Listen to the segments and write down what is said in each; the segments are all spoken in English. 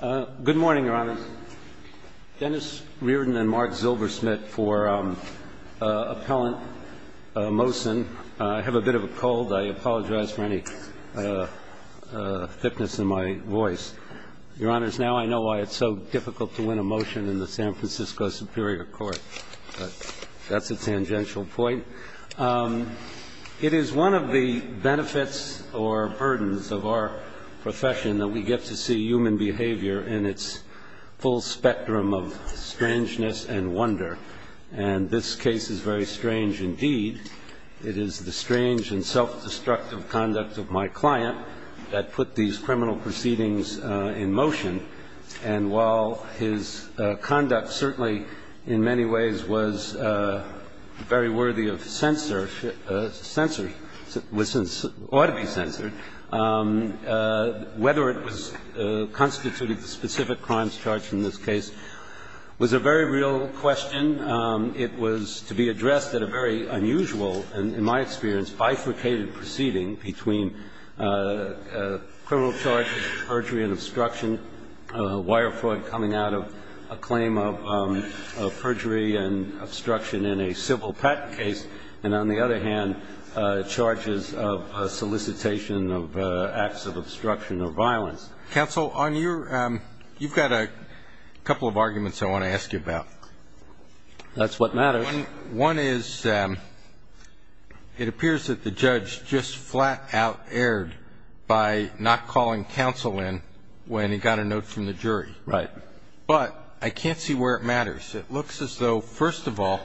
Good morning, Your Honors. Dennis Reardon and Mark Zilbersmith for Appellant Mohsen. I have a bit of a cold. I apologize for any thickness in my voice. Your Honors, now I know why it's so difficult to win a motion in the San Francisco Superior Court. That's a tangential point. It is one of the benefits or burdens of our profession that we get to see human behavior in its full spectrum of strangeness and wonder. And this case is very strange indeed. It is the strange and self-destructive conduct of my client that put these criminal proceedings in motion. And while his conduct certainly in many ways was very worthy of censorship or ought to be censored, whether it was constituted the specific crimes charged in this case was a very real question. It was to be addressed at a very unusual and, in my experience, bifurcated proceeding between criminal charges of perjury and obstruction, wire fraud coming out of a claim of perjury and obstruction in a civil patent case, and on the other hand, charges of solicitation of acts of obstruction or violence. Counsel, on your – you've got a couple of arguments I want to ask you about. That's what matters. One is it appears that the judge just flat-out erred by not calling counsel in when he got a note from the jury. Right. But I can't see where it matters. It looks as though, first of all,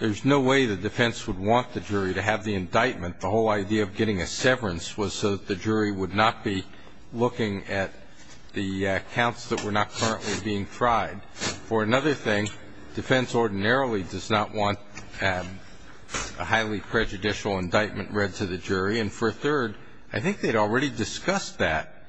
there's no way the defense would want the jury to have the indictment. The whole idea of getting a severance was so that the jury would not be looking at the accounts that were not currently being tried. For another thing, defense ordinarily does not want a highly prejudicial indictment read to the jury, and for a third, I think they'd already discussed that.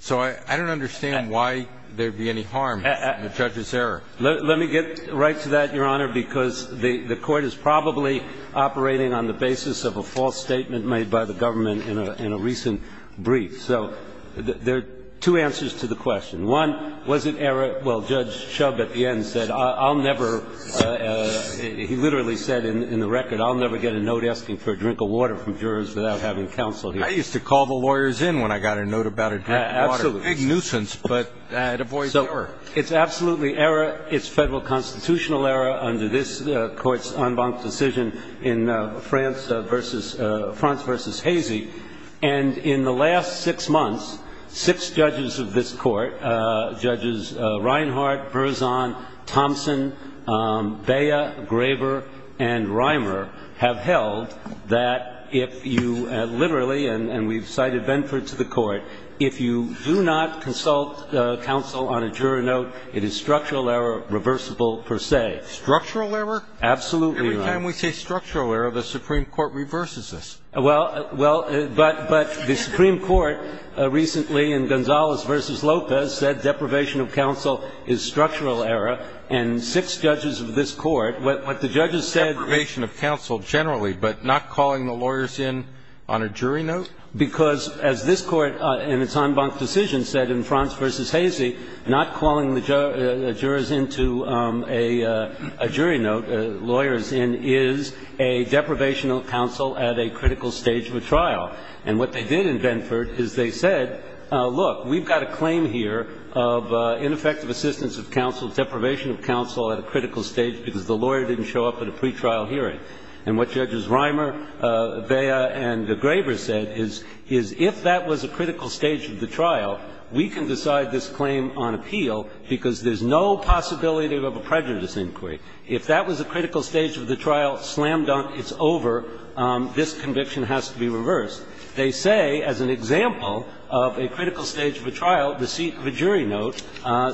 So I don't understand why there would be any harm in the judge's error. Let me get right to that, Your Honor, because the Court is probably operating on the basis of a false statement made by the government in a recent brief. So there are two answers to the question. One, was it error? Well, Judge Shub at the end said, I'll never – he literally said in the record, I'll never get a note asking for a drink of water from jurors without having counsel here. I used to call the lawyers in when I got a note about a drink of water. That's a big nuisance, but it avoids the error. So it's absolutely error. It's Federal constitutional error under this Court's en banc decision in France v. Hazy. And in the last six months, six judges of this Court, judges Reinhart, Berzon, Thompson, Bea, Graber, and Reimer, have held that if you – literally, and we've cited Benford to the Court – if you do not consult counsel on a juror note, it is structural error reversible per se. Structural error? Absolutely, Your Honor. Every time we say structural error, the Supreme Court reverses this. Well, but the Supreme Court recently in Gonzalez v. Lopez said deprivation of counsel is structural error. And six judges of this Court, what the judges said – Deprivation of counsel generally, but not calling the lawyers in on a jury note? Because as this Court in its en banc decision said in France v. Hazy, not calling the jurors into a jury note, lawyers in, is a deprivation of counsel at a critical stage of a trial. And what they did in Benford is they said, look, we've got a claim here of ineffective assistance of counsel, deprivation of counsel at a critical stage because the lawyer didn't show up at a pretrial hearing. And what judges Reimer, Bea, and Graber said is if that was a critical stage of the trial, slam dunk, it's over. This conviction has to be reversed. They say, as an example of a critical stage of a trial, the seat of a jury note,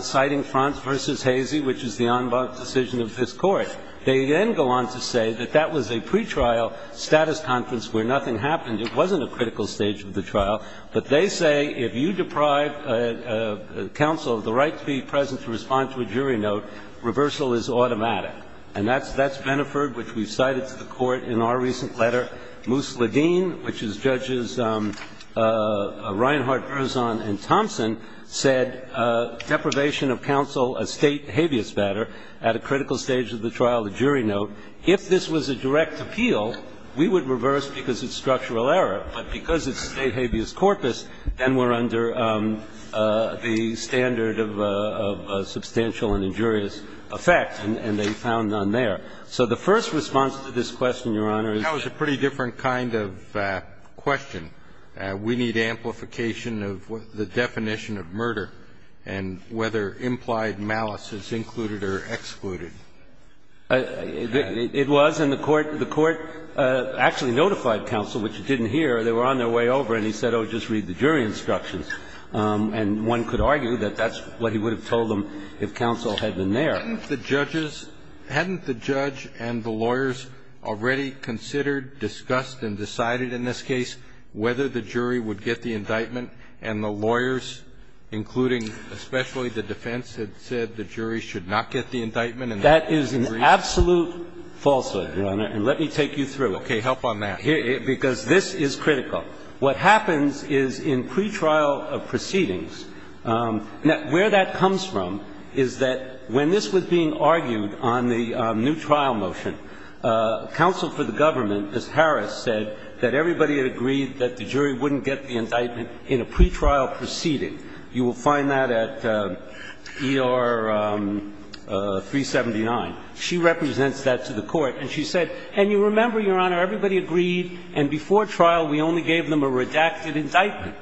citing France v. Hazy, which is the en banc decision of this Court. They then go on to say that that was a pretrial status conference where nothing happened. It wasn't a critical stage of the trial. And then they go on to say that if there's no reason to respond to a jury note, reversal is automatic. And that's Benford, which we've cited to the Court in our recent letter. Moose Ledeen, which is Judges Reinhart, Erzon, and Thompson, said deprivation of counsel, a state habeas batter, at a critical stage of the trial, a jury note. If this was a direct appeal, we would reverse because it's structural error. But because it's a state habeas corpus, then we're under the standard of a substantial and injurious effect, and they found none there. So the first response to this question, Your Honor, is that we need amplification of the definition of murder and whether implied malice is included or excluded. It was. And the Court actually notified counsel, which it didn't hear. They were on their way over, and he said, oh, just read the jury instructions. And one could argue that that's what he would have told them if counsel had been there. Hadn't the judges – hadn't the judge and the lawyers already considered, discussed, and decided in this case whether the jury would get the indictment and the lawyers, including especially the defense, had said the jury should not get the indictment? That is an absolute falsehood, Your Honor, and let me take you through it. Okay. Help on that. Because this is critical. What happens is in pretrial proceedings, where that comes from is that when this was being argued on the new trial motion, counsel for the government, as Harris said, that everybody had agreed that the jury wouldn't get the indictment in a pretrial proceeding. You will find that at ER 379. She represents that to the Court, and she said, and you remember, Your Honor, everybody agreed, and before trial we only gave them a redacted indictment.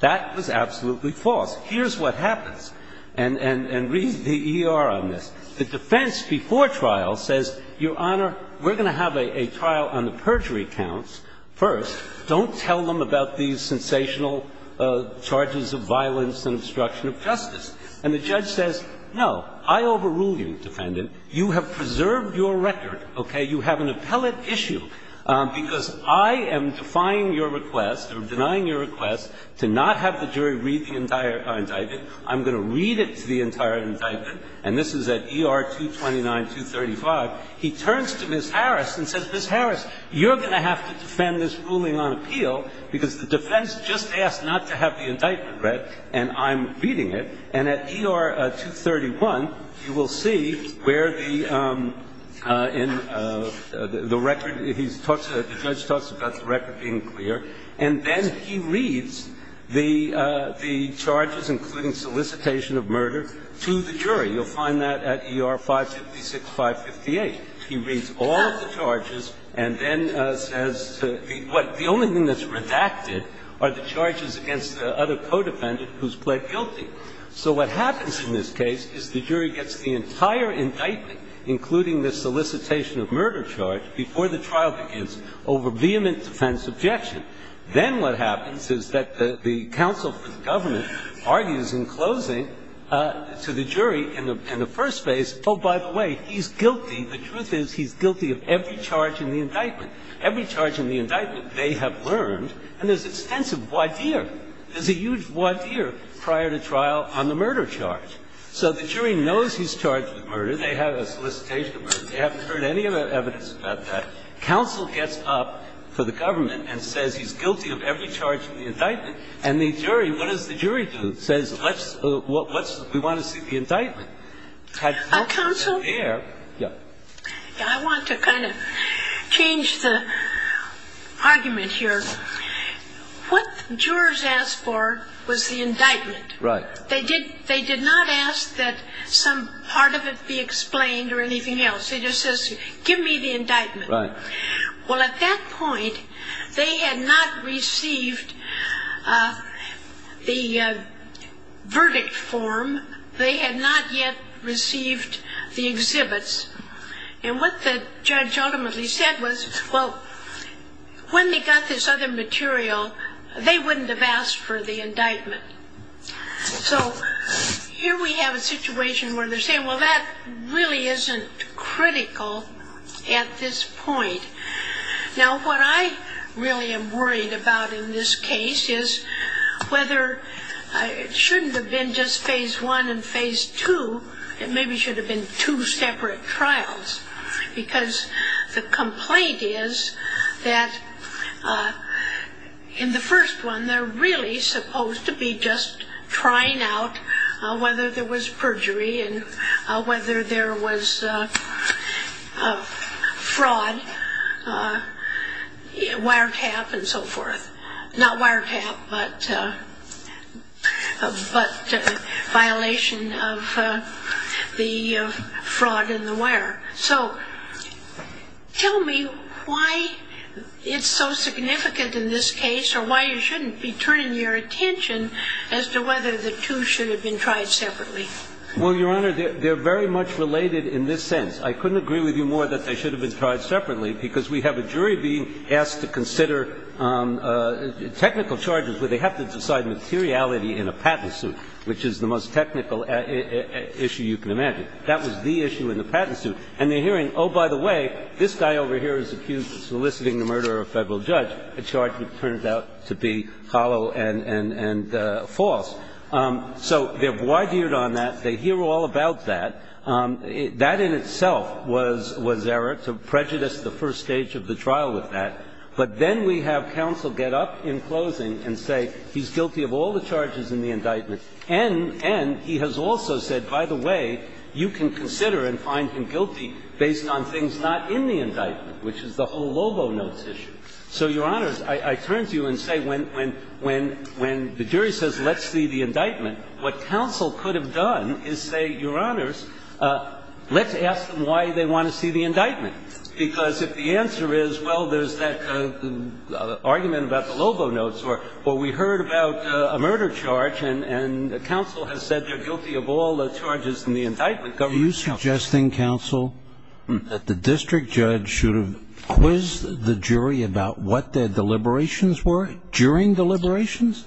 That was absolutely false. Here's what happens. And read the ER on this. The defense before trial says, Your Honor, we're going to have a trial on the perjury counts first. Don't tell them about these sensational charges of violence and obstruction of justice. And the judge says, no, I overrule you, defendant. You have preserved your record, okay? You have an appellate issue, because I am defying your request or denying your request to not have the jury read the entire indictment. I'm going to read it to the entire indictment, and this is at ER 229, 235. He turns to Ms. Harris and says, Ms. Harris, you're going to have to defend this ruling on appeal, because the defense just asked not to have the indictment read, and I'm reading it. And at ER 231, you will see where the record he talks about, the judge talks about the record being clear, and then he reads the charges, including solicitation of murder, to the jury. You'll find that at ER 556, 558. He reads all of the charges and then says, the only thing that's redacted are the charges against the other co-defendant who's pled guilty. So what happens in this case is the jury gets the entire indictment, including the solicitation of murder charge, before the trial begins, over vehement defense objection. Then what happens is that the counsel for the government argues in closing to the jury in the first phase, oh, by the way, he's guilty. The truth is he's guilty of every charge in the indictment. Every charge in the indictment they have learned, and there's extensive voir dire. There's a huge voir dire prior to trial on the murder charge. So the jury knows he's charged with murder. They have a solicitation of murder. They haven't heard any evidence about that. Counsel gets up for the government and says he's guilty of every charge in the indictment. And the jury, what does the jury do? The jury says let's we want to see the indictment. Counsel? Yeah. I want to kind of change the argument here. What jurors asked for was the indictment. Right. They did not ask that some part of it be explained or anything else. It just says give me the indictment. Right. Well, at that point they had not received the verdict form. They had not yet received the exhibits. And what the judge ultimately said was, well, when they got this other material, they wouldn't have asked for the indictment. So here we have a situation where they're saying, well, that really isn't critical at this point. Now, what I really am worried about in this case is whether it shouldn't have been just phase one and phase two, it maybe should have been two separate trials. Because the complaint is that in the first one they're really supposed to be just trying out whether there was perjury and whether there was fraud, wiretap and so forth. Not wiretap, but violation of the fraud in the wire. So tell me why it's so significant in this case or why you shouldn't be turning your attention as to whether the two should have been tried separately. Well, Your Honor, they're very much related in this sense. I couldn't agree with you more that they should have been tried separately because we have a jury being asked to consider technical charges where they have to decide materiality in a patent suit, which is the most technical issue you can imagine. That was the issue in the patent suit. And they're hearing, oh, by the way, this guy over here is accused of soliciting the murder of a Federal judge, a charge that turns out to be hollow and false. So they're wide-eared on that. They hear all about that. That in itself was error to prejudice the first stage of the trial with that. But then we have counsel get up in closing and say he's guilty of all the charges in the indictment. And he has also said, by the way, you can consider and find him guilty based on things not in the indictment, which is the whole Lobo notes issue. So, Your Honors, I turn to you and say when the jury says let's see the indictment, what counsel could have done is say, Your Honors, let's ask them why they want to see the indictment. Because if the answer is, well, there's that argument about the Lobo notes or we heard about a murder charge and counsel has said they're guilty of all the charges in the indictment, government counsel. I'm not suggesting, counsel, that the district judge should have quizzed the jury about what their deliberations were during deliberations.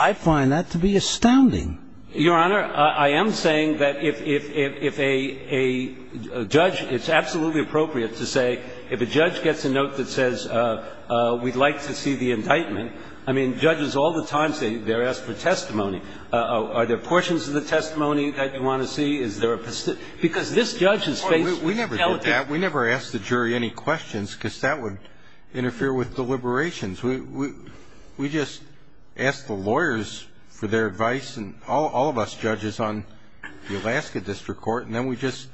I find that to be astounding. Your Honor, I am saying that if a judge, it's absolutely appropriate to say if a judge gets a note that says we'd like to see the indictment, I mean, judges all the time say they're asked for testimony. Are there portions of the testimony that you want to see? Is there a position? Because this judge is faced with intelligence. We never do that. We never ask the jury any questions because that would interfere with deliberations. We just ask the lawyers for their advice, and all of us judges on the Alaska District Court, and then we just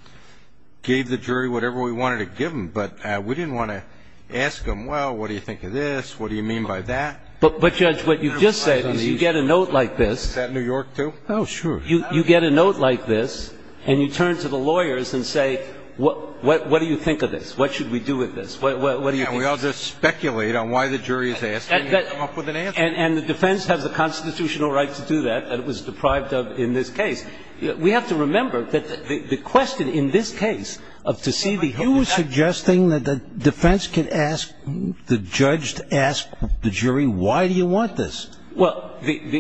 gave the jury whatever we wanted to give them. But we didn't want to ask them, well, what do you think of this? What do you mean by that? But, Judge, what you just said is you get a note like this. Is that New York, too? Oh, sure. You get a note like this, and you turn to the lawyers and say, what do you think of this? What should we do with this? What do you think of this? And we all just speculate on why the jury is asking and come up with an answer. And the defense has the constitutional right to do that, and it was deprived of in this case. We have to remember that the question in this case of to see the indictment You are suggesting that the defense can ask the judge to ask the jury why do you want this? Well,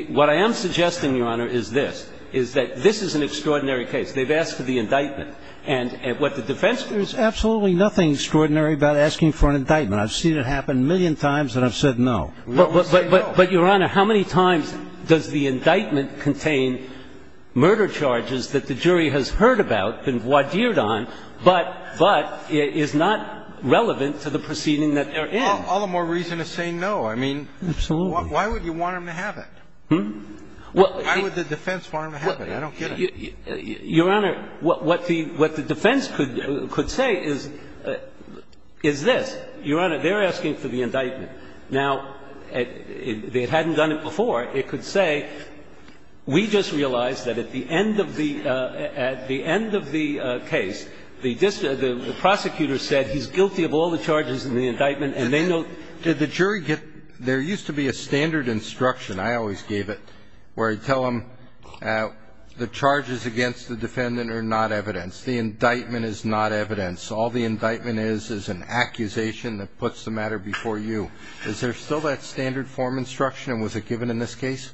what I am suggesting, Your Honor, is this, is that this is an extraordinary case. They've asked for the indictment. And what the defense There's absolutely nothing extraordinary about asking for an indictment. I've seen it happen a million times, and I've said no. But, Your Honor, how many times does the indictment contain murder charges that the jury has heard about, been voir dired on, but is not relevant to the proceeding that they're in? All the more reason to say no. Absolutely. Why would you want them to have it? Why would the defense want them to have it? I don't get it. Your Honor, what the defense could say is this. Your Honor, they're asking for the indictment. Now, they hadn't done it before. It could say, we just realized that at the end of the case, the prosecutor said he's guilty of all the charges in the indictment, and they know And did the jury get There used to be a standard instruction, I always gave it, where I'd tell them the charges against the defendant are not evidence. The indictment is not evidence. All the indictment is is an accusation that puts the matter before you. Is there still that standard form instruction, and was it given in this case?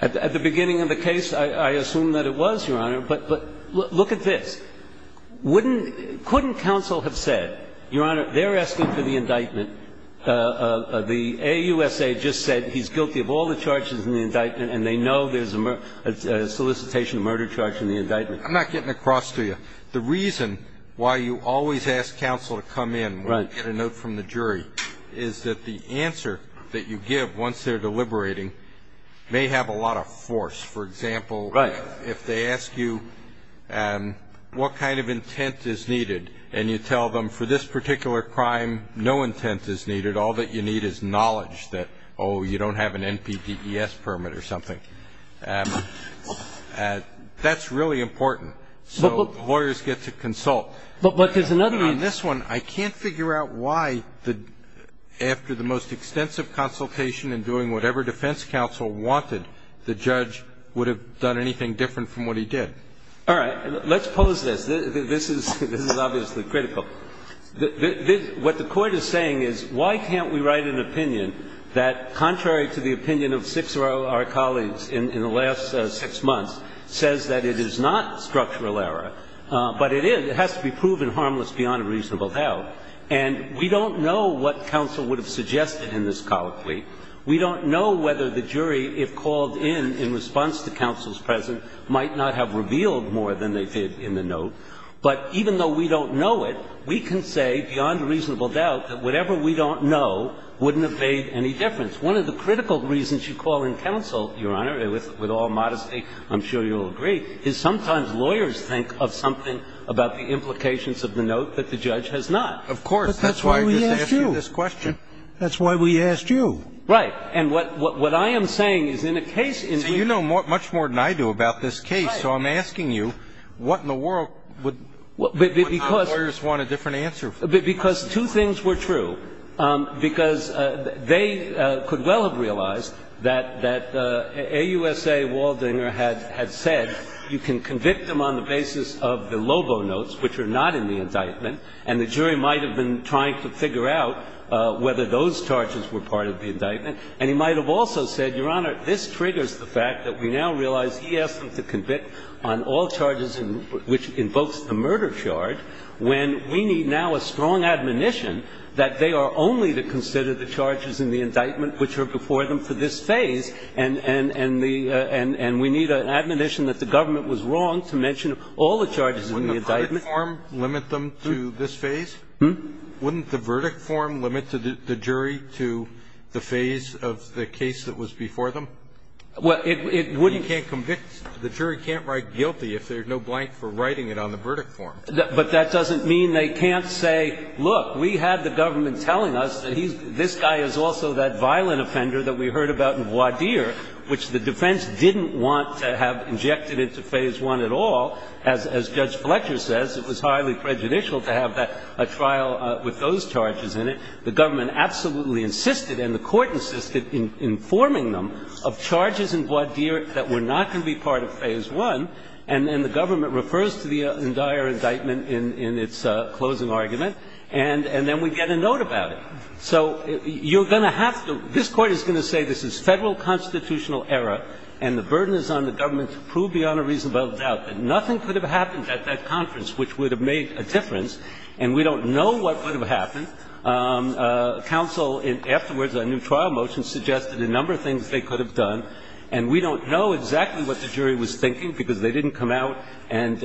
At the beginning of the case, I assume that it was, Your Honor. But look at this. Couldn't counsel have said, Your Honor, they're asking for the indictment, the AUSA just said he's guilty of all the charges in the indictment, and they know there's a solicitation of murder charge in the indictment. I'm not getting across to you. The reason why you always ask counsel to come in when you get a note from the jury is that the answer that you give once they're deliberating may have a lot of force. For example, if they ask you what kind of intent is needed, and you tell them for this particular crime no intent is needed, all that you need is knowledge that, oh, you don't have an NPDES permit or something, that's really important. So lawyers get to consult. But there's another reason. On this one, I can't figure out why, after the most extensive consultation and doing whatever defense counsel wanted, the judge would have done anything different from what he did. All right. Let's pose this. This is obviously critical. What the Court is saying is why can't we write an opinion that, contrary to the opinion of six of our colleagues in the last six months, says that it is not structural error, but it is, it has to be proven harmless beyond a reasonable doubt. And we don't know what counsel would have suggested in this colloquy. We don't know whether the jury, if called in in response to counsel's presence, might not have revealed more than they did in the note. But even though we don't know it, we can say, beyond reasonable doubt, that whatever we don't know wouldn't have made any difference. One of the critical reasons you call in counsel, Your Honor, with all modesty, I'm sure you'll agree, is sometimes lawyers think of something about the implications of the note that the judge has not. That's why I just asked you this question. But that's why we asked you. That's why we asked you. Right. And what I am saying is in a case in which you know much more than I do about this case, so I'm asking you, what in the world would lawyers want a different answer for? Because two things were true. Because they could well have realized that AUSA Waldinger had said you can convict them on the basis of the Lobo notes, which are not in the indictment, and the jury might have been trying to figure out whether those charges were part of the indictment. And he might have also said, Your Honor, this triggers the fact that we now realize he asked them to convict on all charges which invokes the murder charge when we need now a strong admonition that they are only to consider the charges in the indictment which are before them for this phase. And we need an admonition that the government was wrong to mention all the charges in the indictment. Would the verdict form limit them to this phase? Wouldn't the verdict form limit the jury to the phase of the case that was before Well, it wouldn't. The jury can't write guilty if there's no blank for writing it on the verdict form. But that doesn't mean they can't say, look, we had the government telling us that he's this guy is also that violent offender that we heard about in voir dire, which the defense didn't want to have injected into phase one at all. As Judge Fletcher says, it was highly prejudicial to have a trial with those charges in it. The government absolutely insisted and the Court insisted in informing them of charges in voir dire that were not going to be part of phase one, and then the government refers to the entire indictment in its closing argument, and then we get a note about it. So you're going to have to – this Court is going to say this is Federal constitutional error and the burden is on the government to prove beyond a reasonable doubt that nothing could have happened at that conference which would have made a difference and we don't know what would have happened. Counsel, afterwards, a new trial motion suggested a number of things they could have done, and we don't know exactly what the jury was thinking because they didn't come out and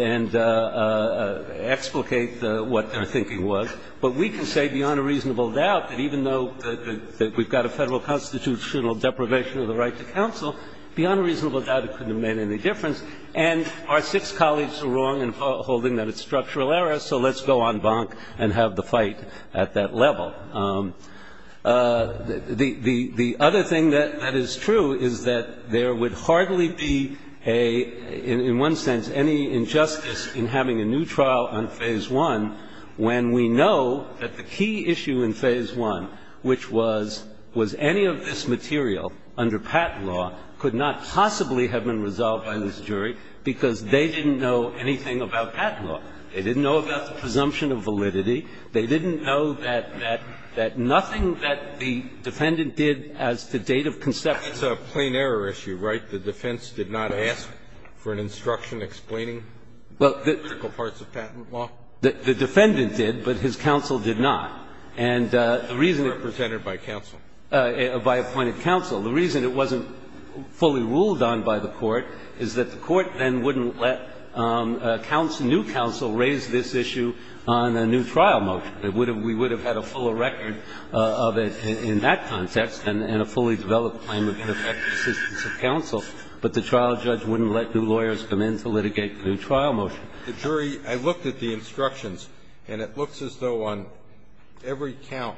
explicate what their thinking was. But we can say beyond a reasonable doubt that even though we've got a Federal constitutional deprivation of the right to counsel, beyond a reasonable doubt it couldn't have made any difference. And our six colleagues were wrong in holding that it's structural error, so let's go on bonk and have the fight at that level. The other thing that is true is that there would hardly be a – in one sense, any injustice in having a new trial on phase one when we know that the key issue in phase one, which was was any of this material under Patent Law could not possibly have been resolved by this jury because they didn't know anything about Patent Law. They didn't know about the presumption of validity. They didn't know that – that nothing that the defendant did as to date of conception of the trial. That's a plain error issue, right? The defense did not ask for an instruction explaining the critical parts of Patent Law? Well, the defendant did, but his counsel did not. And the reason it wasn't fully ruled on by the Court is that the Court then wouldn't let new counsel raise this issue on a new trial motion. It would have – we would have had a fuller record of it in that context and a fully developed claim that could affect the assistance of counsel, but the trial judge wouldn't let new lawyers come in to litigate the new trial motion. The jury – I looked at the instructions, and it looks as though on every count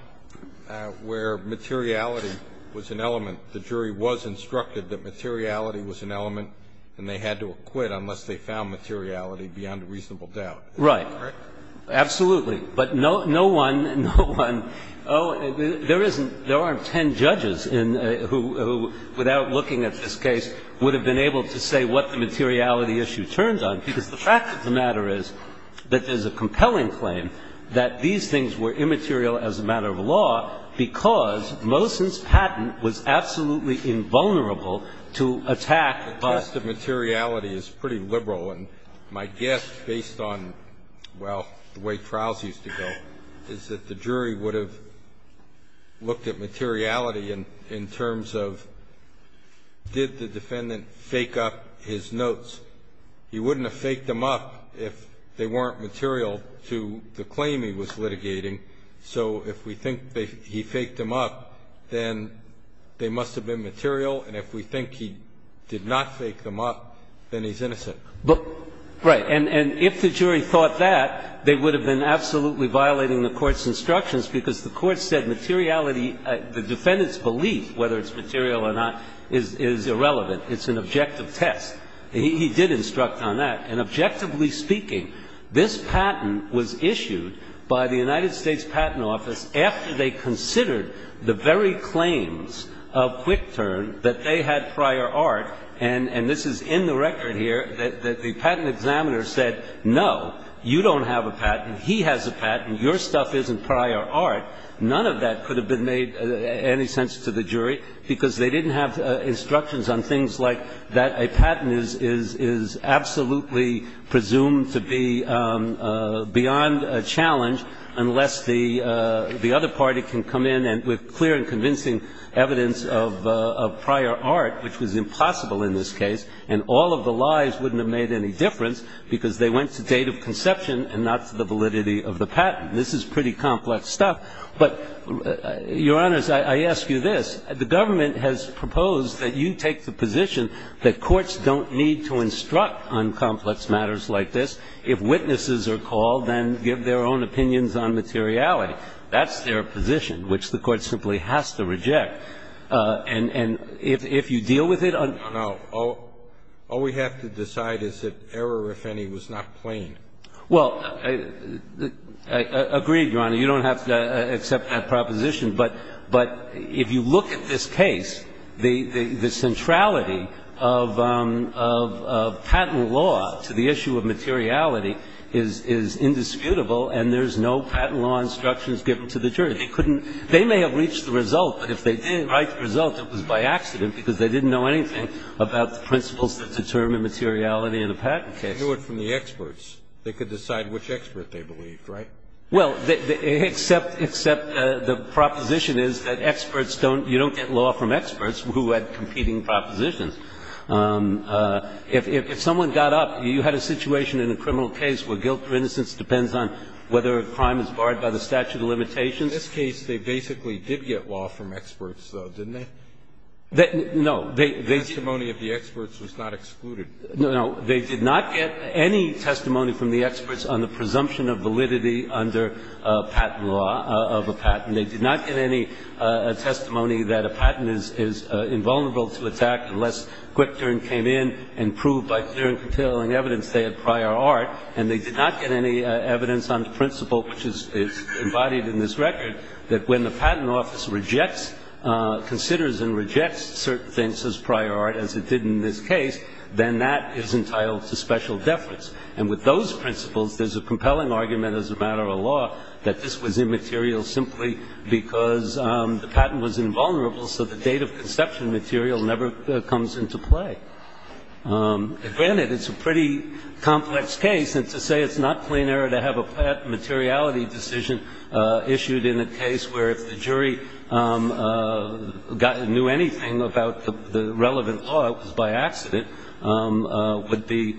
where materiality was an element, the jury was instructed that materiality was an element and they had to acquit unless they found materiality beyond a reasonable doubt. Is that correct? Right. Absolutely. But no one – no one – oh, there isn't – there aren't ten judges in – who, without looking at this case, would have been able to say what the materiality issue turned on, because the fact of the matter is that there's a compelling claim that these things were immaterial as a matter of law because Mosin's patent was absolutely invulnerable to attack by – The test of materiality is pretty liberal, and my guess, based on, well, the way trials used to go, is that the jury would have looked at materiality in terms of did the defendant fake up his notes. He wouldn't have faked them up if they weren't material to the claim he was litigating. So if we think he faked them up, then they must have been material. And if we think he did not fake them up, then he's innocent. Right. And if the jury thought that, they would have been absolutely violating the Court's instructions because the Court said materiality – the defendant's belief, whether it's material or not, is irrelevant. It's an objective test. He did instruct on that. And objectively speaking, this patent was issued by the United States Patent Office after they considered the very claims of Quick Turn that they had prior art, and this is in the record here, that the patent examiner said, no, you don't have a patent. He has a patent. Your stuff isn't prior art. None of that could have made any sense to the jury because they didn't have presumed to be beyond a challenge unless the other party can come in with clear and convincing evidence of prior art, which was impossible in this case. And all of the lies wouldn't have made any difference because they went to date of conception and not to the validity of the patent. This is pretty complex stuff. But, Your Honors, I ask you this. The government has proposed that you take the position that courts don't need to discuss matters like this. If witnesses are called, then give their own opinions on materiality. That's their position, which the Court simply has to reject. And if you deal with it on the ground. No. All we have to decide is that error, if any, was not plain. Well, I agree, Your Honor. You don't have to accept that proposition. But if you look at this case, the centrality of patent law to the issue of materiality is indisputable and there's no patent law instructions given to the jury. They may have reached the result, but if they didn't write the result, it was by accident because they didn't know anything about the principles that determine materiality in a patent case. They knew it from the experts. They could decide which expert they believed, right? Well, except the proposition is that experts don't you don't get law from experts who had competing propositions. If someone got up, you had a situation in a criminal case where guilt or innocence depends on whether a crime is barred by the statute of limitations. In this case, they basically did get law from experts, though, didn't they? No. The testimony of the experts was not excluded. No. They did not get any testimony from the experts on the presumption of validity under patent law of a patent. They did not get any testimony that a patent is invulnerable to attack unless quick turn came in and proved by clear and compelling evidence they had prior art. And they did not get any evidence on the principle, which is embodied in this record, that when the patent office rejects, considers and rejects certain things as prior art, as it did in this case, then that is entitled to special deference. And with those principles, there's a compelling argument as a matter of law that this was immaterial simply because the patent was invulnerable, so the date of conception material never comes into play. Granted, it's a pretty complex case. And to say it's not plain error to have a patent materiality decision issued in a case where if the jury knew anything about the relevant law, it was by accident, would be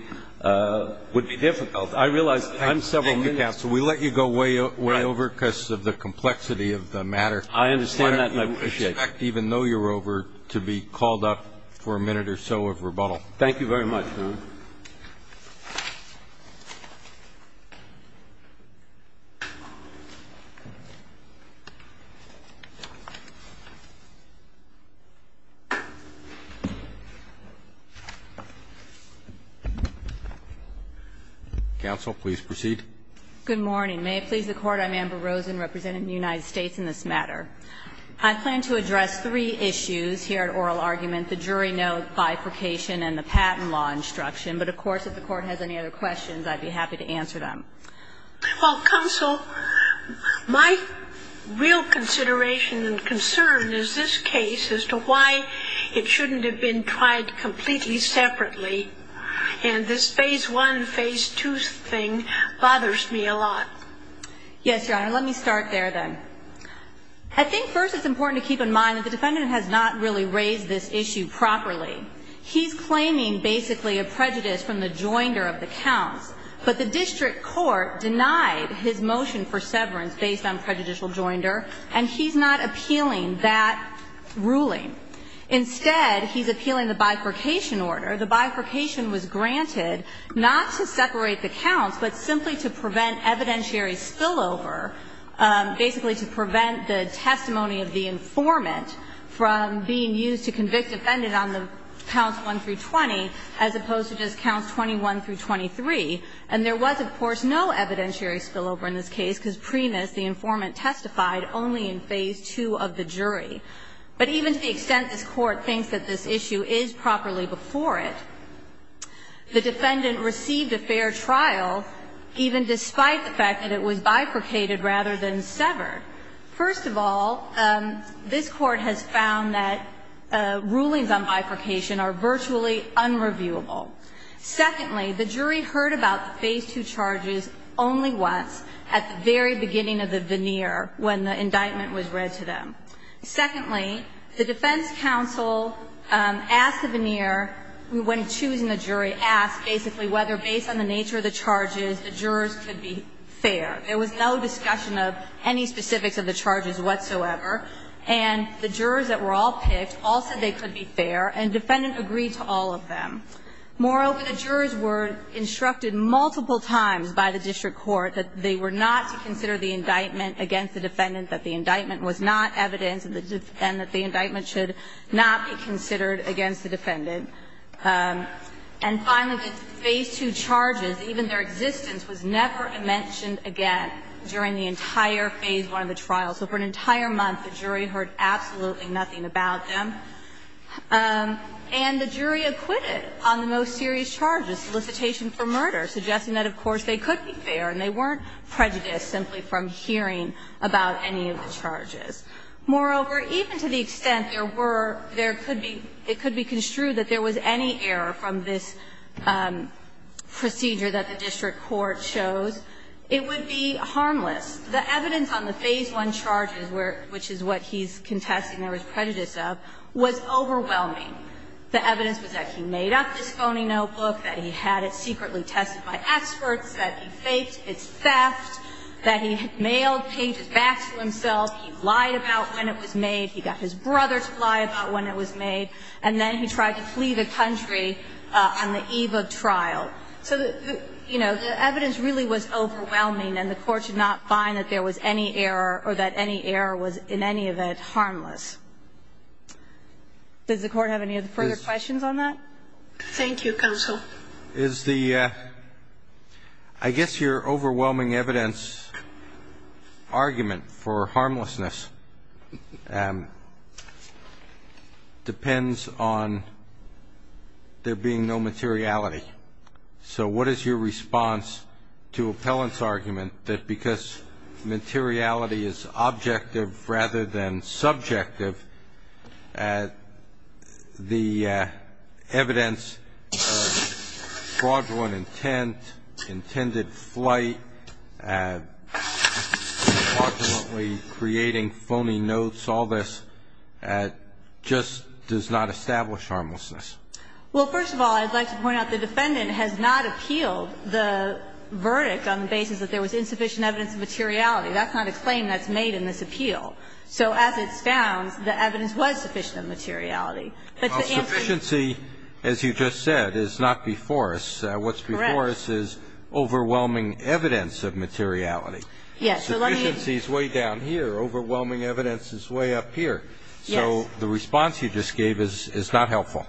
difficult. I realize I'm several minutes. Thank you, counsel. We let you go way over because of the complexity of the matter. I understand that and I appreciate it. I expect even though you're over to be called up for a minute or so of rebuttal. Thank you very much, Your Honor. Counsel, please proceed. Good morning. May it please the Court. I'm Amber Rosen, representing the United States in this matter. I plan to address three issues here at oral argument, the jury note bifurcation and the patent law instruction. But, of course, if the Court has any other questions, I'd be happy to answer them. Well, counsel, my real consideration and concern is this case as to why it shouldn't have been tried completely separately. And this phase one, phase two thing bothers me a lot. Yes, Your Honor. Let me start there then. I think first it's important to keep in mind that the defendant has not really raised this issue properly. He's claiming basically a prejudice from the joinder of the counts. But the district court denied his motion for severance based on prejudicial joinder, and he's not appealing that ruling. Instead, he's appealing the bifurcation order. The bifurcation was granted not to separate the counts, but simply to prevent evidentiary spillover, basically to prevent the testimony of the informant from being used to convict defendant on the counts 1 through 20, as opposed to just counts 21 through 23. And there was, of course, no evidentiary spillover in this case, because premis, the informant testified only in phase two of the jury. But even to the extent this Court thinks that this issue is properly before it, the defendant received a fair trial even despite the fact that it was bifurcated rather than severed. First of all, this Court has found that rulings on bifurcation are virtually unreviewable. Secondly, the jury heard about the phase two charges only once, at the very beginning of the veneer, when the indictment was read to them. Secondly, the defense counsel asked the veneer, when choosing the jury, asked basically whether based on the nature of the charges, the jurors could be fair. There was no discussion of any specifics of the charges whatsoever, and the jurors that were all picked all said they could be fair, and defendant agreed to all of them. Moreover, the jurors were instructed multiple times by the district court that they were not to consider the indictment against the defendant, that the indictment was not evidence, and that the indictment should not be considered against the defendant. And finally, the phase two charges, even their existence, was never mentioned again during the entire phase one of the trial. So for an entire month, the jury heard absolutely nothing about them. And the jury acquitted on the most serious charges, solicitation for murder, suggesting that, of course, they could be fair and they weren't prejudiced simply from hearing about any of the charges. Moreover, even to the extent there were, there could be, it could be construed that there was any error from this procedure that the district court chose, it would be harmless. The evidence on the phase one charges, which is what he's contesting there was prejudice of, was overwhelming. The evidence was that he made up this phony notebook, that he had it secretly tested by experts, that he faked its theft, that he had mailed pages back to himself, that he lied about when it was made, he got his brother to lie about when it was made, and then he tried to flee the country on the eve of trial. So, you know, the evidence really was overwhelming, and the Court did not find that there was any error or that any error was, in any event, harmless. Does the Court have any further questions on that? Thank you, counsel. Is the, I guess your overwhelming evidence argument for harmlessness depends on there being no materiality. So what is your response to Appellant's argument that because materiality is fraudulent intent, intended flight, fraudulently creating phony notes, all this, just does not establish harmlessness? Well, first of all, I'd like to point out the defendant has not appealed the verdict on the basis that there was insufficient evidence of materiality. That's not a claim that's made in this appeal. So as it stands, the evidence was sufficient of materiality. Well, sufficiency, as you just said, is not before us. Correct. What's before us is overwhelming evidence of materiality. Yes. Sufficiency is way down here. Overwhelming evidence is way up here. Yes. So the response you just gave is not helpful.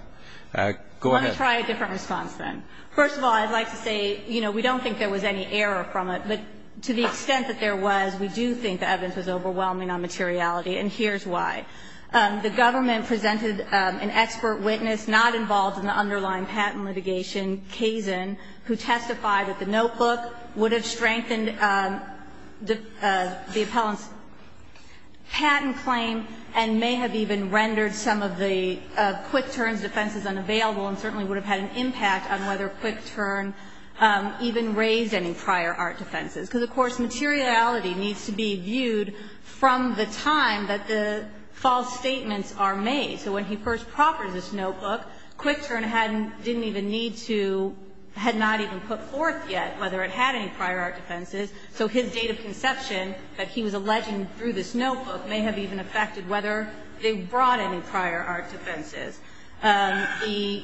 Go ahead. Let me try a different response, then. First of all, I'd like to say, you know, we don't think there was any error from it, but to the extent that there was, we do think the evidence was overwhelming on materiality, and here's why. The government presented an expert witness not involved in the underlying patent litigation, Kazin, who testified that the notebook would have strengthened the appellant's patent claim and may have even rendered some of the Quick Turn's defenses unavailable and certainly would have had an impact on whether Quick Turn even raised any prior art defenses. Because, of course, materiality needs to be viewed from the time that the false statements are made. So when he first proffered this notebook, Quick Turn didn't even need to, had not even put forth yet whether it had any prior art defenses, so his date of conception that he was alleging through this notebook may have even affected whether they brought any prior art defenses. The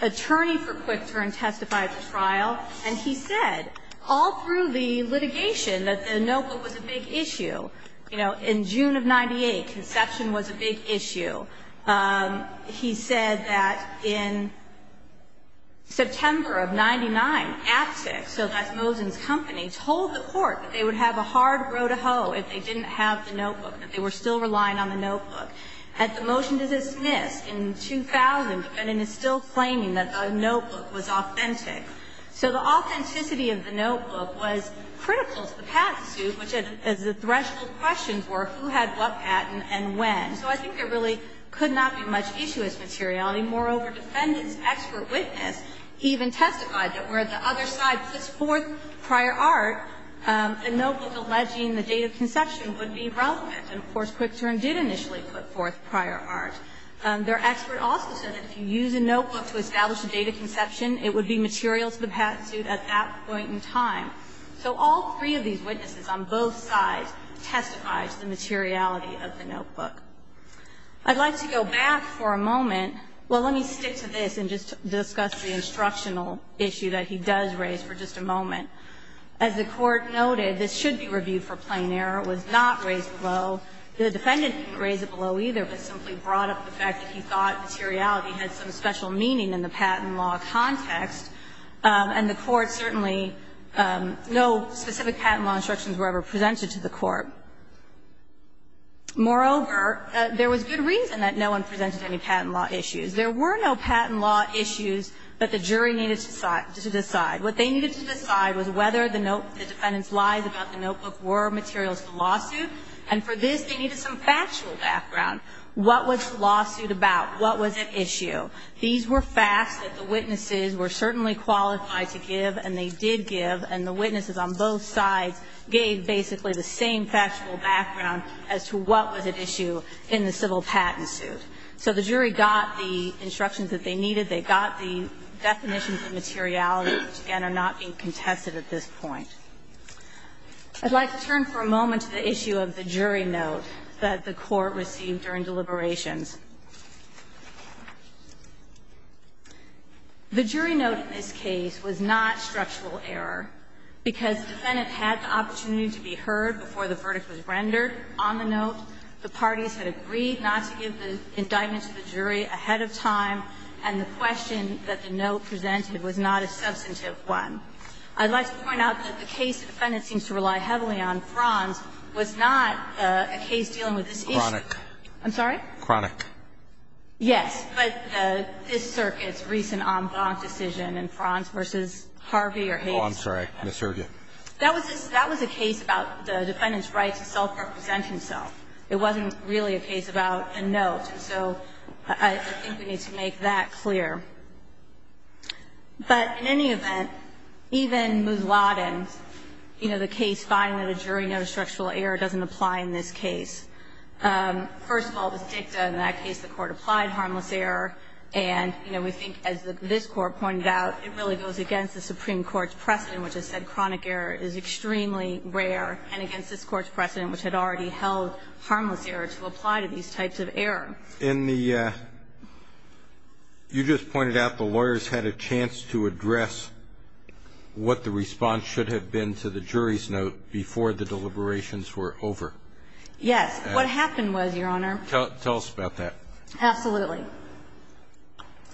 attorney for Quick Turn testified at the trial, and he said all through the litigation that the notebook was a big issue. You know, in June of 98, conception was a big issue. He said that in September of 99, Aptek, so that's Mosin's company, told the Court that they would have a hard row to hoe if they didn't have the notebook, that they were still relying on the notebook. At the motion to dismiss in 2000, the defendant is still claiming that the notebook was authentic. So the authenticity of the notebook was critical to the patent suit, which, as the threshold questions were, who had what patent and when. So I think there really could not be much issue with materiality. Moreover, defendant's expert witness even testified that where the other side puts forth prior art, the notebook alleging the date of conception would be relevant. And, of course, Quick Turn did initially put forth prior art. Their expert also said that if you use a notebook to establish a date of conception, it would be material to the patent suit at that point in time. So all three of these witnesses on both sides testified to the materiality of the notebook. I'd like to go back for a moment. Well, let me stick to this and just discuss the instructional issue that he does raise for just a moment. As the Court noted, this should be reviewed for plain error. It was not raised below. The defendant didn't raise it below either, but simply brought up the fact that he thought materiality had some special meaning in the patent law context. And the Court certainly no specific patent law instructions were ever presented to the Court. Moreover, there was good reason that no one presented any patent law issues. There were no patent law issues that the jury needed to decide. What they needed to decide was whether the defendant's lies about the notebook were material to the lawsuit. And for this, they needed some factual background. What was the lawsuit about? What was at issue? These were facts that the witnesses were certainly qualified to give, and they did give. And the witnesses on both sides gave basically the same factual background as to what was at issue in the civil patent suit. So the jury got the instructions that they needed. They got the definitions of materiality, which, again, are not being contested at this point. I'd like to turn for a moment to the issue of the jury note that the Court received during deliberations. The jury note in this case was not structural error, because the defendant had the opportunity to be heard before the verdict was rendered on the note, the parties had agreed not to give the indictment to the jury ahead of time, and the question that the note presented was not a substantive one. I'd like to point out that the case the defendant seems to rely heavily on, Franz, was not a case dealing with this issue. I'm sorry? Cronick. Yes. But this Circuit's recent en banc decision in Franz v. Harvey or Havis. Oh, I'm sorry. I misheard you. That was a case about the defendant's right to self-represent himself. It wasn't really a case about a note. And so I think we need to make that clear. But in any event, even Mousladen, you know, the case finding that a jury note of structural error doesn't apply in this case. First of all, with Dicta, in that case, the Court applied harmless error, and, you know, we think, as this Court pointed out, it really goes against the Supreme Court's precedent, which has said chronic error is extremely rare, and against this Court's precedent, which had already held harmless error to apply to these types of error. In the you just pointed out the lawyers had a chance to address what the response should have been to the jury's note before the deliberations were over. Yes. What happened was, Your Honor. Tell us about that. Absolutely.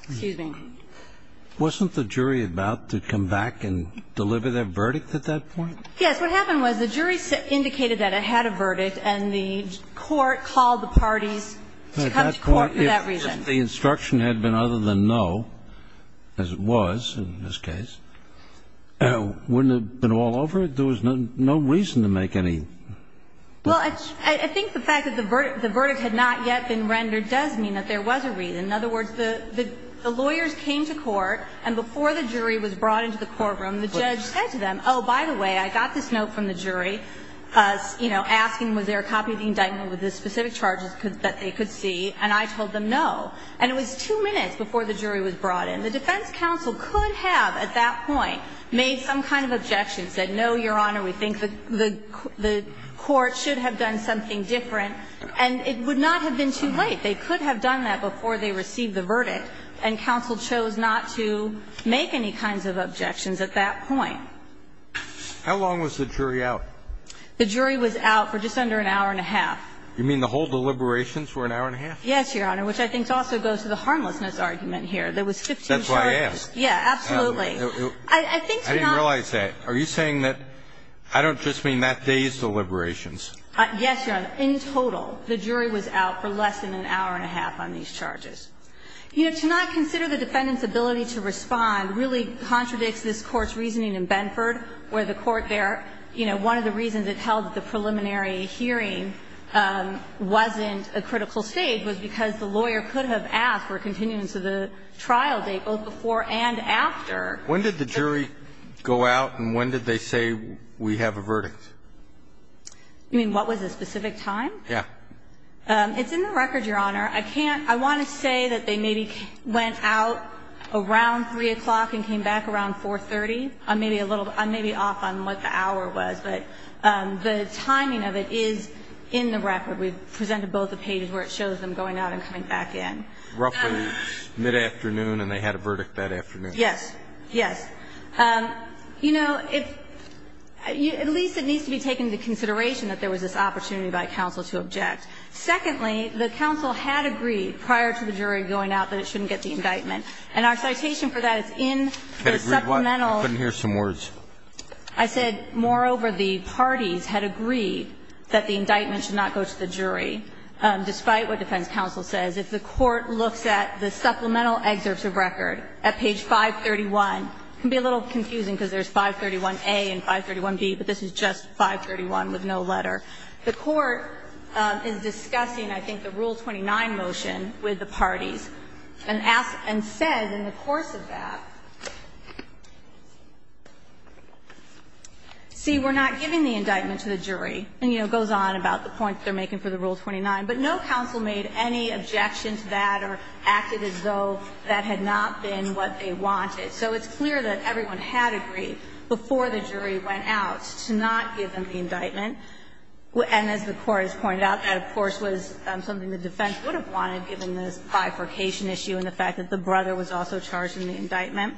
Excuse me. Wasn't the jury about to come back and deliver their verdict at that point? Yes. What happened was the jury indicated that it had a verdict, and the Court called the parties to come to court for that reason. If the instruction had been other than no, as it was in this case, wouldn't it have been all over? There was no reason to make any blunders. Well, I think the fact that the verdict had not yet been rendered does mean that there was a reason. In other words, the lawyers came to court, and before the jury was brought into the courtroom, the judge said to them, oh, by the way, I got this note from the jury, you know, asking was there a copy of the indictment with the specific charges that they could see, and I told them no. And it was two minutes before the jury was brought in. The defense counsel could have at that point made some kind of objection, said no, Your Honor, we think the court should have done something different, and it would not have been too late. They could have done that before they received the verdict, and counsel chose not to make any kinds of objections at that point. How long was the jury out? The jury was out for just under an hour and a half. You mean the whole deliberations were an hour and a half? Yes, Your Honor, which I think also goes to the harmlessness argument here. There was 15 charges. That's what I asked. Yeah, absolutely. I think tonight – I didn't realize that. Are you saying that I don't just mean that day's deliberations? Yes, Your Honor. In total, the jury was out for less than an hour and a half on these charges. You know, to not consider the defendant's ability to respond really contradicts this Court's reasoning in Benford, where the court there, you know, one of the reasons it held that the preliminary hearing wasn't a critical stage was because the lawyer could have asked for a continuing to the trial date both before and after. When did the jury go out, and when did they say we have a verdict? You mean what was the specific time? Yeah. It's in the record, Your Honor. I can't – I want to say that they maybe went out around 3 o'clock and came back around 4.30. I'm maybe a little – I'm maybe off on what the hour was, but the timing of it is in the record. We presented both the pages where it shows them going out and coming back in. Roughly mid-afternoon, and they had a verdict that afternoon. Yes. Yes. You know, at least it needs to be taken into consideration that there was this opportunity by counsel to object. Secondly, the counsel had agreed prior to the jury going out that it shouldn't get the indictment. And our citation for that is in the supplemental. I couldn't hear some words. I said, moreover, the parties had agreed that the indictment should not go to the jury, despite what defense counsel says. If the court looks at the supplemental excerpts of record at page 531, it can be a little confusing because there's 531a and 531b, but this is just 531 with no letter. The court is discussing, I think, the Rule 29 motion with the parties and asked and said in the course of that, see, we're not giving the indictment to the jury. And, you know, it goes on about the point they're making for the Rule 29. But no counsel made any objection to that or acted as though that had not been what they wanted. So it's clear that everyone had agreed before the jury went out to not give them the indictment. And as the Court has pointed out, that, of course, was something the defense would have wanted, given this bifurcation issue and the fact that the brother was also charged in the indictment.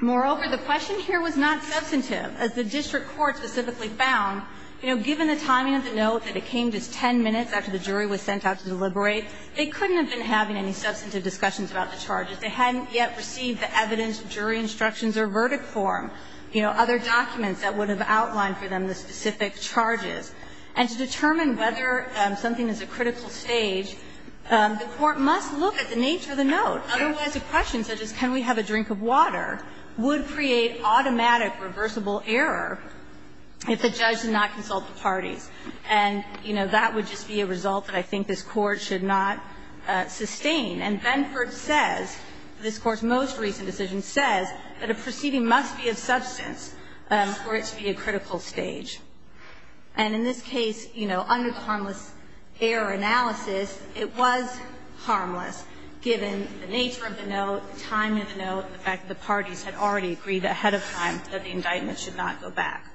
Moreover, the question here was not substantive. As the district court specifically found, you know, given the timing of the note that it came just 10 minutes after the jury was sent out to deliberate, they couldn't have been having any substantive discussions about the charges. They hadn't yet received the evidence, jury instructions, or verdict form. You know, other documents that would have outlined for them the specific charges. And to determine whether something is a critical stage, the Court must look at the nature of the note. Otherwise, a question such as can we have a drink of water would create automatic, reversible error if the judge did not consult the parties. And, you know, that would just be a result that I think this Court should not sustain. And Benford says, this Court's most recent decision says, that a proceeding must be of substance for it to be a critical stage. And in this case, you know, under the harmless error analysis, it was harmless, given the nature of the note, the timing of the note, and the fact that the parties had already agreed ahead of time that the indictment should not go back.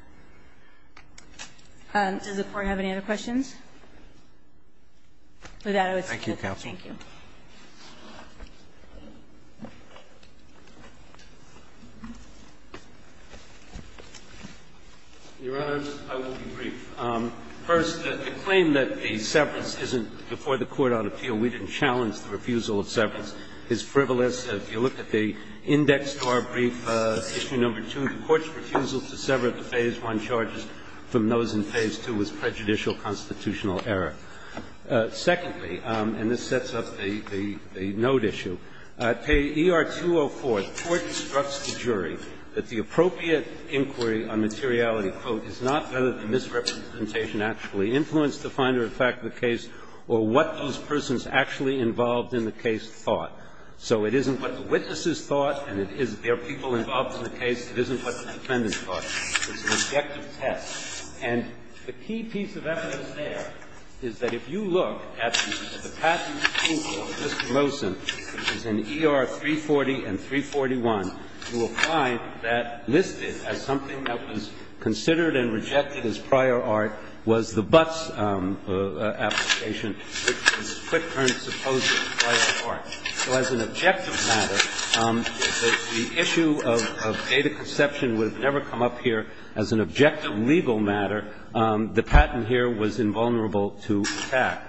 Does the Court have any other questions? With that, I would say goodbye. Thank you. Your Honors, I will be brief. First, the claim that the severance isn't before the Court on appeal, we didn't challenge the refusal of severance. It's frivolous. If you look at the indexed-bar brief, issue number 2, the Court's refusal to sever the phase 1 charges from those in phase 2 was prejudicial constitutional error. Secondly, and this sets up the note issue, ER 204, the Court instructs the jury that the appropriate inquiry on materiality, quote, is not whether the misrepresentation actually influenced the finder of the fact of the case or what those persons actually involved in the case thought. So it isn't what the witnesses thought and it isn't their people involved in the case. It isn't what the defendant thought. It's an objective test. And the key piece of evidence there is that if you look at the patent approval of Mr. Mosen, which is in ER 340 and 341, you will find that listed as something that was considered and rejected as prior art was the Butts application, which was quick-turned supposedly prior art. So as an objective matter, the issue of data conception would have never come up here as an objective legal matter. The patent here was invulnerable to attack.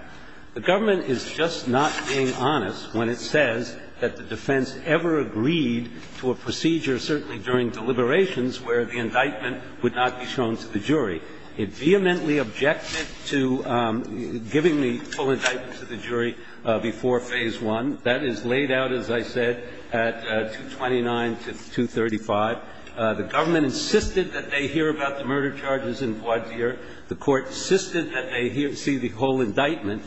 The government is just not being honest when it says that the defense ever agreed to a procedure, certainly during deliberations, where the indictment would not be shown to the jury. It vehemently objected to giving the full indictment to the jury before phase 1. That is laid out, as I said, at 229 to 235. The government insisted that they hear about the murder charges in voir dire. The Court insisted that they hear and see the whole indictment.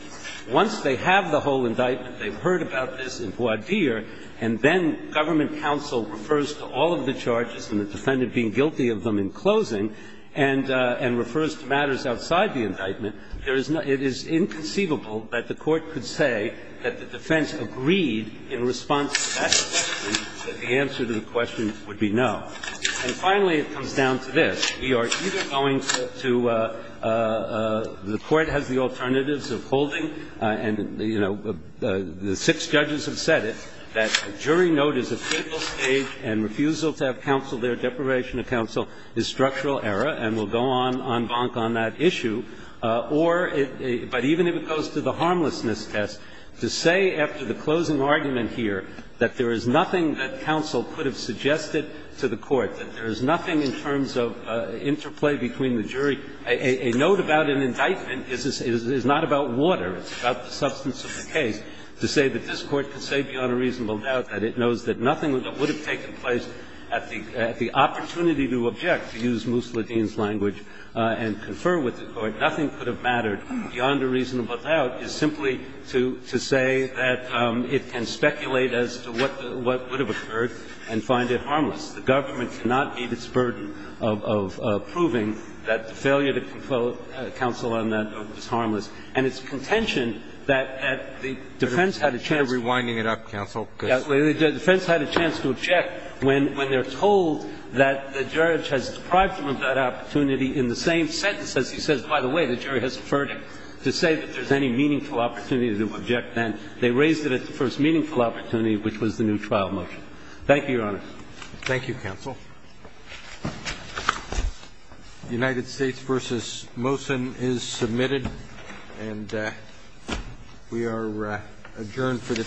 Once they have the whole indictment, they've heard about this in voir dire, and then government counsel refers to all of the charges and the defendant being guilty of them in closing and refers to matters outside the indictment. It is inconceivable that the Court could say that the defense agreed in response to that question that the answer to the question would be no. And finally, it comes down to this. We are either going to the Court has the alternatives of holding, and, you know, the six judges have said it, that jury note is a fatal stage and refusal to have counsel there, deprivation of counsel, is structural error, and we'll go on, en banc, on that issue. Or, but even if it goes to the harmlessness test, to say after the closing argument here that there is nothing that counsel could have suggested to the Court, that there is nothing in terms of interplay between the jury. A note about an indictment is not about water. It's about the substance of the case. To say that this Court can say beyond a reasonable doubt that it knows that nothing that would have taken place at the opportunity to object, to use Moussa Ledeen's language and confer with the Court, nothing could have mattered beyond a reasonable doubt is simply to say that it can speculate as to what would have occurred and find it harmless. The government cannot meet its burden of proving that the failure to confer counsel on that note was harmless. And it's contention that the defense had a chance to object when they're told that the judge has deprived them of that opportunity in the same sentence as he says, by the way, the jury has deferred to say that there's any meaningful opportunity to object then. They raised it at the first meaningful opportunity, which was the new trial motion. Thank you, Your Honor. Thank you, counsel. United States v. Mosen is submitted, and we are adjourned for the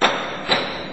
day.